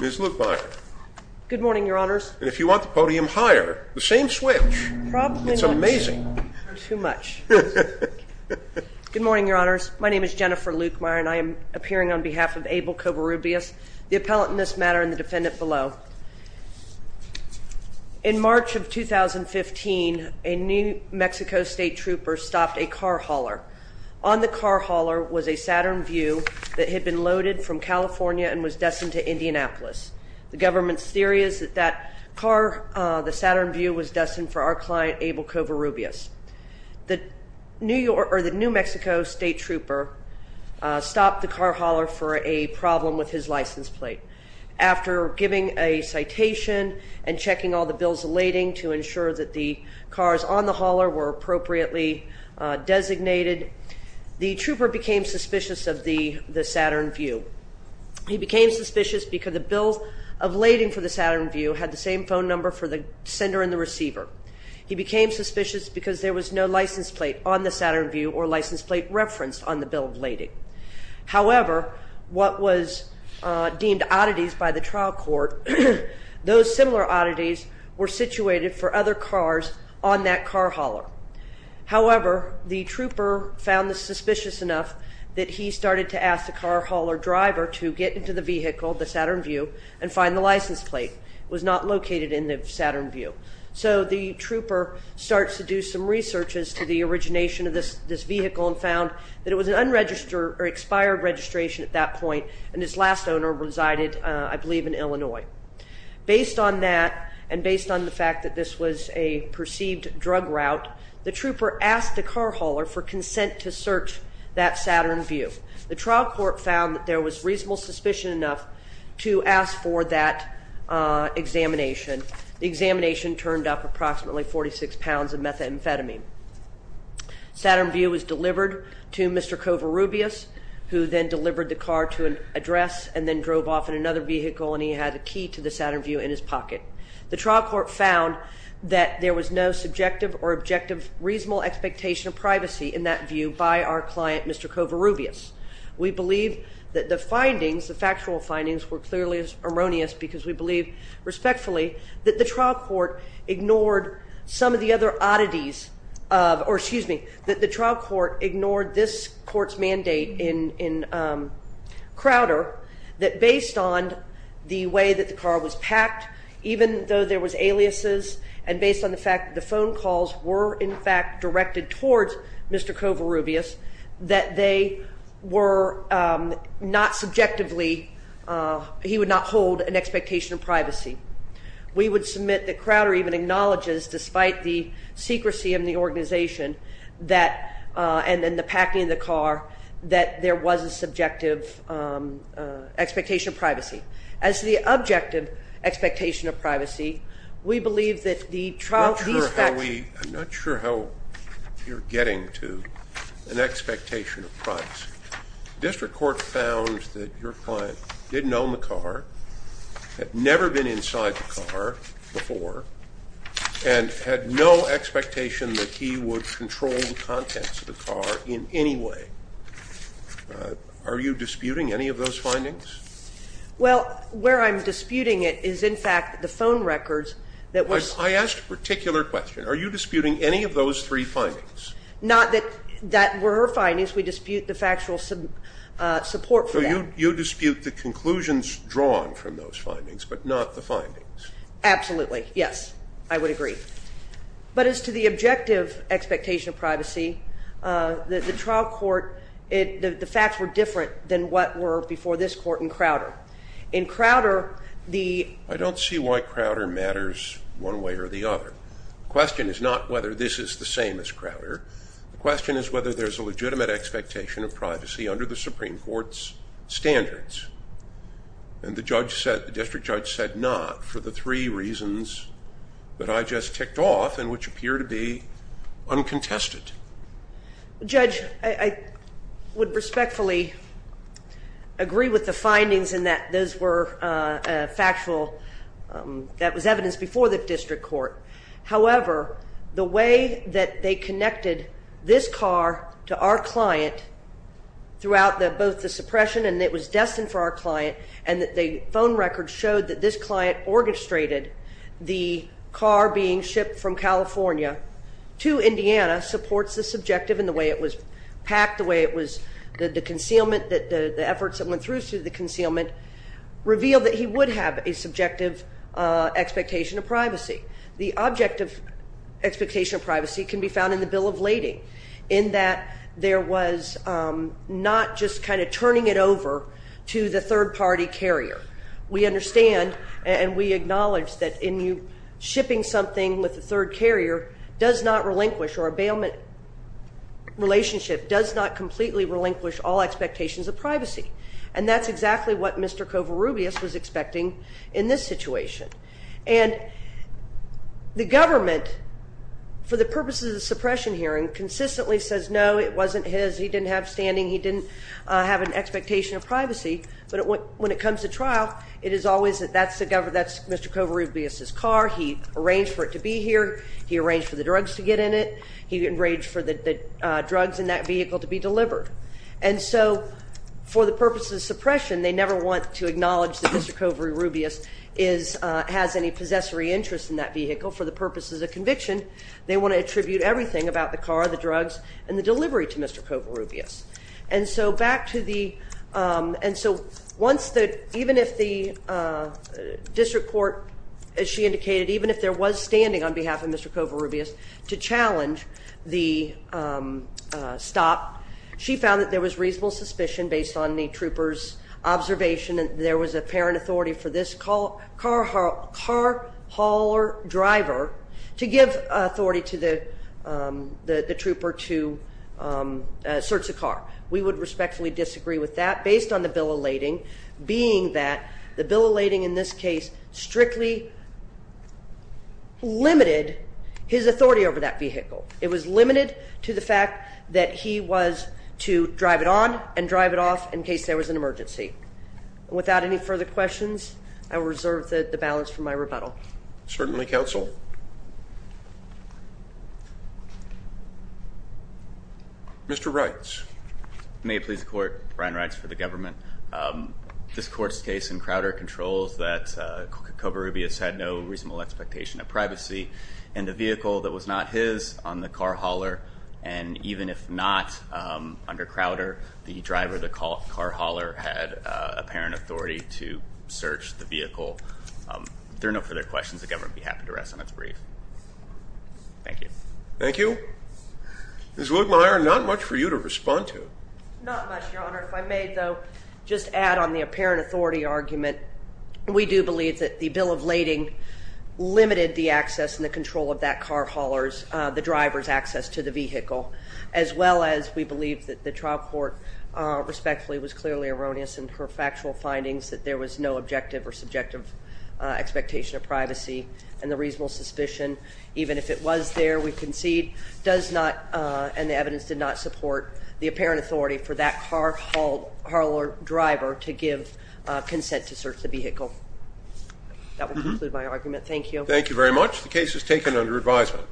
Ms. Lukemeyer. Good morning, your honors. And if you want the podium higher, the same switch. It's amazing. Too much. Good morning, your honors. My name is Jennifer Lukemeyer and I am appearing on behalf of Abel Covarrubias, the appellant in this matter and the defendant below. In March of 2015, a New Mexico State Trooper stopped a car hauler. On the car hauler was a Saturn View that had been loaded from California and was destined to Indianapolis. The government's theory is that the Saturn View was destined for our client Abel Covarrubias. The New Mexico State Trooper stopped the car hauler for a problem with his license plate. After giving a citation and checking all the bills of lading to ensure that the cars on the hauler were appropriately designated, the trooper became suspicious of the Saturn View. He became suspicious because the bills of lading for the Saturn View had the same phone number for the sender and the receiver. He became suspicious because there was no license plate on the Saturn View or license plate referenced on the bill of lading. However, what was deemed oddities by the trial court, those similar oddities were situated for other cars on that car hauler. However, the trooper found this suspicious enough that he started to ask the car hauler driver to get into the vehicle, the Saturn View, and find the license plate was not located in the Saturn View. So the trooper starts to do some researches to the origination of this vehicle and found that it was an unregistered or expired registration at that point and its last owner resided, I believe, in Illinois. Based on that and based on the fact that this was a perceived drug route, the trooper asked the car hauler for consent to search that Saturn View. The trial court found that there was reasonable suspicion enough to ask for that examination. The examination turned up approximately 46 pounds of methamphetamine. Saturn View was delivered to Mr. Covarrubias, who then delivered the car to an address and then drove off in another vehicle and he had a key to the Saturn View in his pocket. The trial court found that there was no subjective or objective reasonable expectation of privacy in that view by our client, Mr. Covarrubias. We believe that the findings, the factual findings, were clearly erroneous because we believe respectfully that the trial court ignored some of the other oddities, or excuse me, that the trial court ignored this court's mandate in Crowder that based on the way that the car was packed, even though there was aliases, and based on the fact that the phone calls were in fact directed towards Mr. Covarrubias, that they were not subjectively, he would not hold an expectation of privacy. We would submit that Crowder even acknowledges, despite the secrecy of the organization and the packing of the car, that there was a subjective expectation of privacy. As the objective expectation of privacy, we believe that the trial- I'm not sure how we, I'm not sure how you're getting to an expectation of privacy. District court found that your client didn't own the car, had never been inside the car before, and had no expectation that he would control the contents of the car in any way. Are you disputing any of those findings? Well, where I'm disputing it is, in fact, the phone records that was- I asked a particular question. Are you disputing any of those three findings? Not that that were findings. We dispute the factual support for that. You dispute the conclusions drawn from those findings, but not the findings. Absolutely, yes, I would agree. But as to the objective expectation of privacy, the trial court, the facts were different than what were before this court in Crowder. In Crowder, the- I don't see why Crowder matters one way or the other. The question is not whether this is the same as Crowder. The question is whether there's a legitimate expectation of privacy under the Supreme Court's standards. And the judge said- the district judge said not for the three reasons that I just ticked off, and which appear to be uncontested. Judge, I would respectfully agree with the findings in that those were factual- that was evidence before the district court. However, the way that they connected this car to our client throughout both the suppression and it was destined for our client, and that the phone record showed that this client orchestrated the car being shipped from California to Indiana supports the subjective in the way it was packed, the way it was, the concealment, the efforts that went through the concealment, revealed that he would have a subjective expectation of privacy. The objective expectation of privacy can be found in the bill of lading, in that there was not just kind of turning it over to the third party carrier. We understand and we acknowledge that in you shipping something with the third carrier does not relinquish or a bailment relationship does not completely relinquish all expectations of privacy. And that's exactly what Mr. Covarrubias was expecting in this situation. And the government, for the purposes of suppression hearing, consistently says no, it wasn't his, he didn't have standing, he didn't have an expectation of privacy. But when it comes to trial, it is always that that's Mr. Covarrubias' car. He arranged for it to be here. He arranged for the drugs to get in it. And so for the purposes of suppression, they never want to acknowledge that Mr. Covarrubias has any possessory interest in that vehicle. For the purposes of conviction, they want to attribute everything about the car, the drugs, and the delivery to Mr. Covarrubias. And so back to the, and so once the, even if the district court, as she indicated, even if there was standing on behalf of Mr. Covarrubias to challenge the stop. She found that there was reasonable suspicion based on the trooper's observation that there was apparent authority for this car hauler driver to give authority to the trooper to search the car. We would respectfully disagree with that, based on the bill elating. Being that the bill elating in this case, strictly limited his authority over that vehicle. It was limited to the fact that he was to drive it on and drive it off in case there was an emergency. Without any further questions, I will reserve the balance for my rebuttal. Certainly, counsel. Mr. Wrights. May it please the court, Brian Wrights for the government. This court's case in Crowder controls that Covarrubias had no reasonable expectation of privacy. And the vehicle that was not his on the car hauler, and even if not under Crowder, the driver of the car hauler had apparent authority to search the vehicle. There are no further questions. The government would be happy to rest on its brief. Thank you. Thank you. Ms. Woodmire, not much for you to respond to. Not much, your honor. If I may, though, just add on the apparent authority argument. We do believe that the bill of lading limited the access and the control of that car hauler's, the driver's access to the vehicle. As well as we believe that the trial court respectfully was clearly erroneous in her factual findings that there was no objective or subjective expectation of privacy and the reasonable suspicion. Even if it was there, we concede does not, and the evidence did not support the apparent authority for that car hauler driver to give consent to search the vehicle. That will conclude my argument. Thank you. Thank you very much. The case is taken under advisement.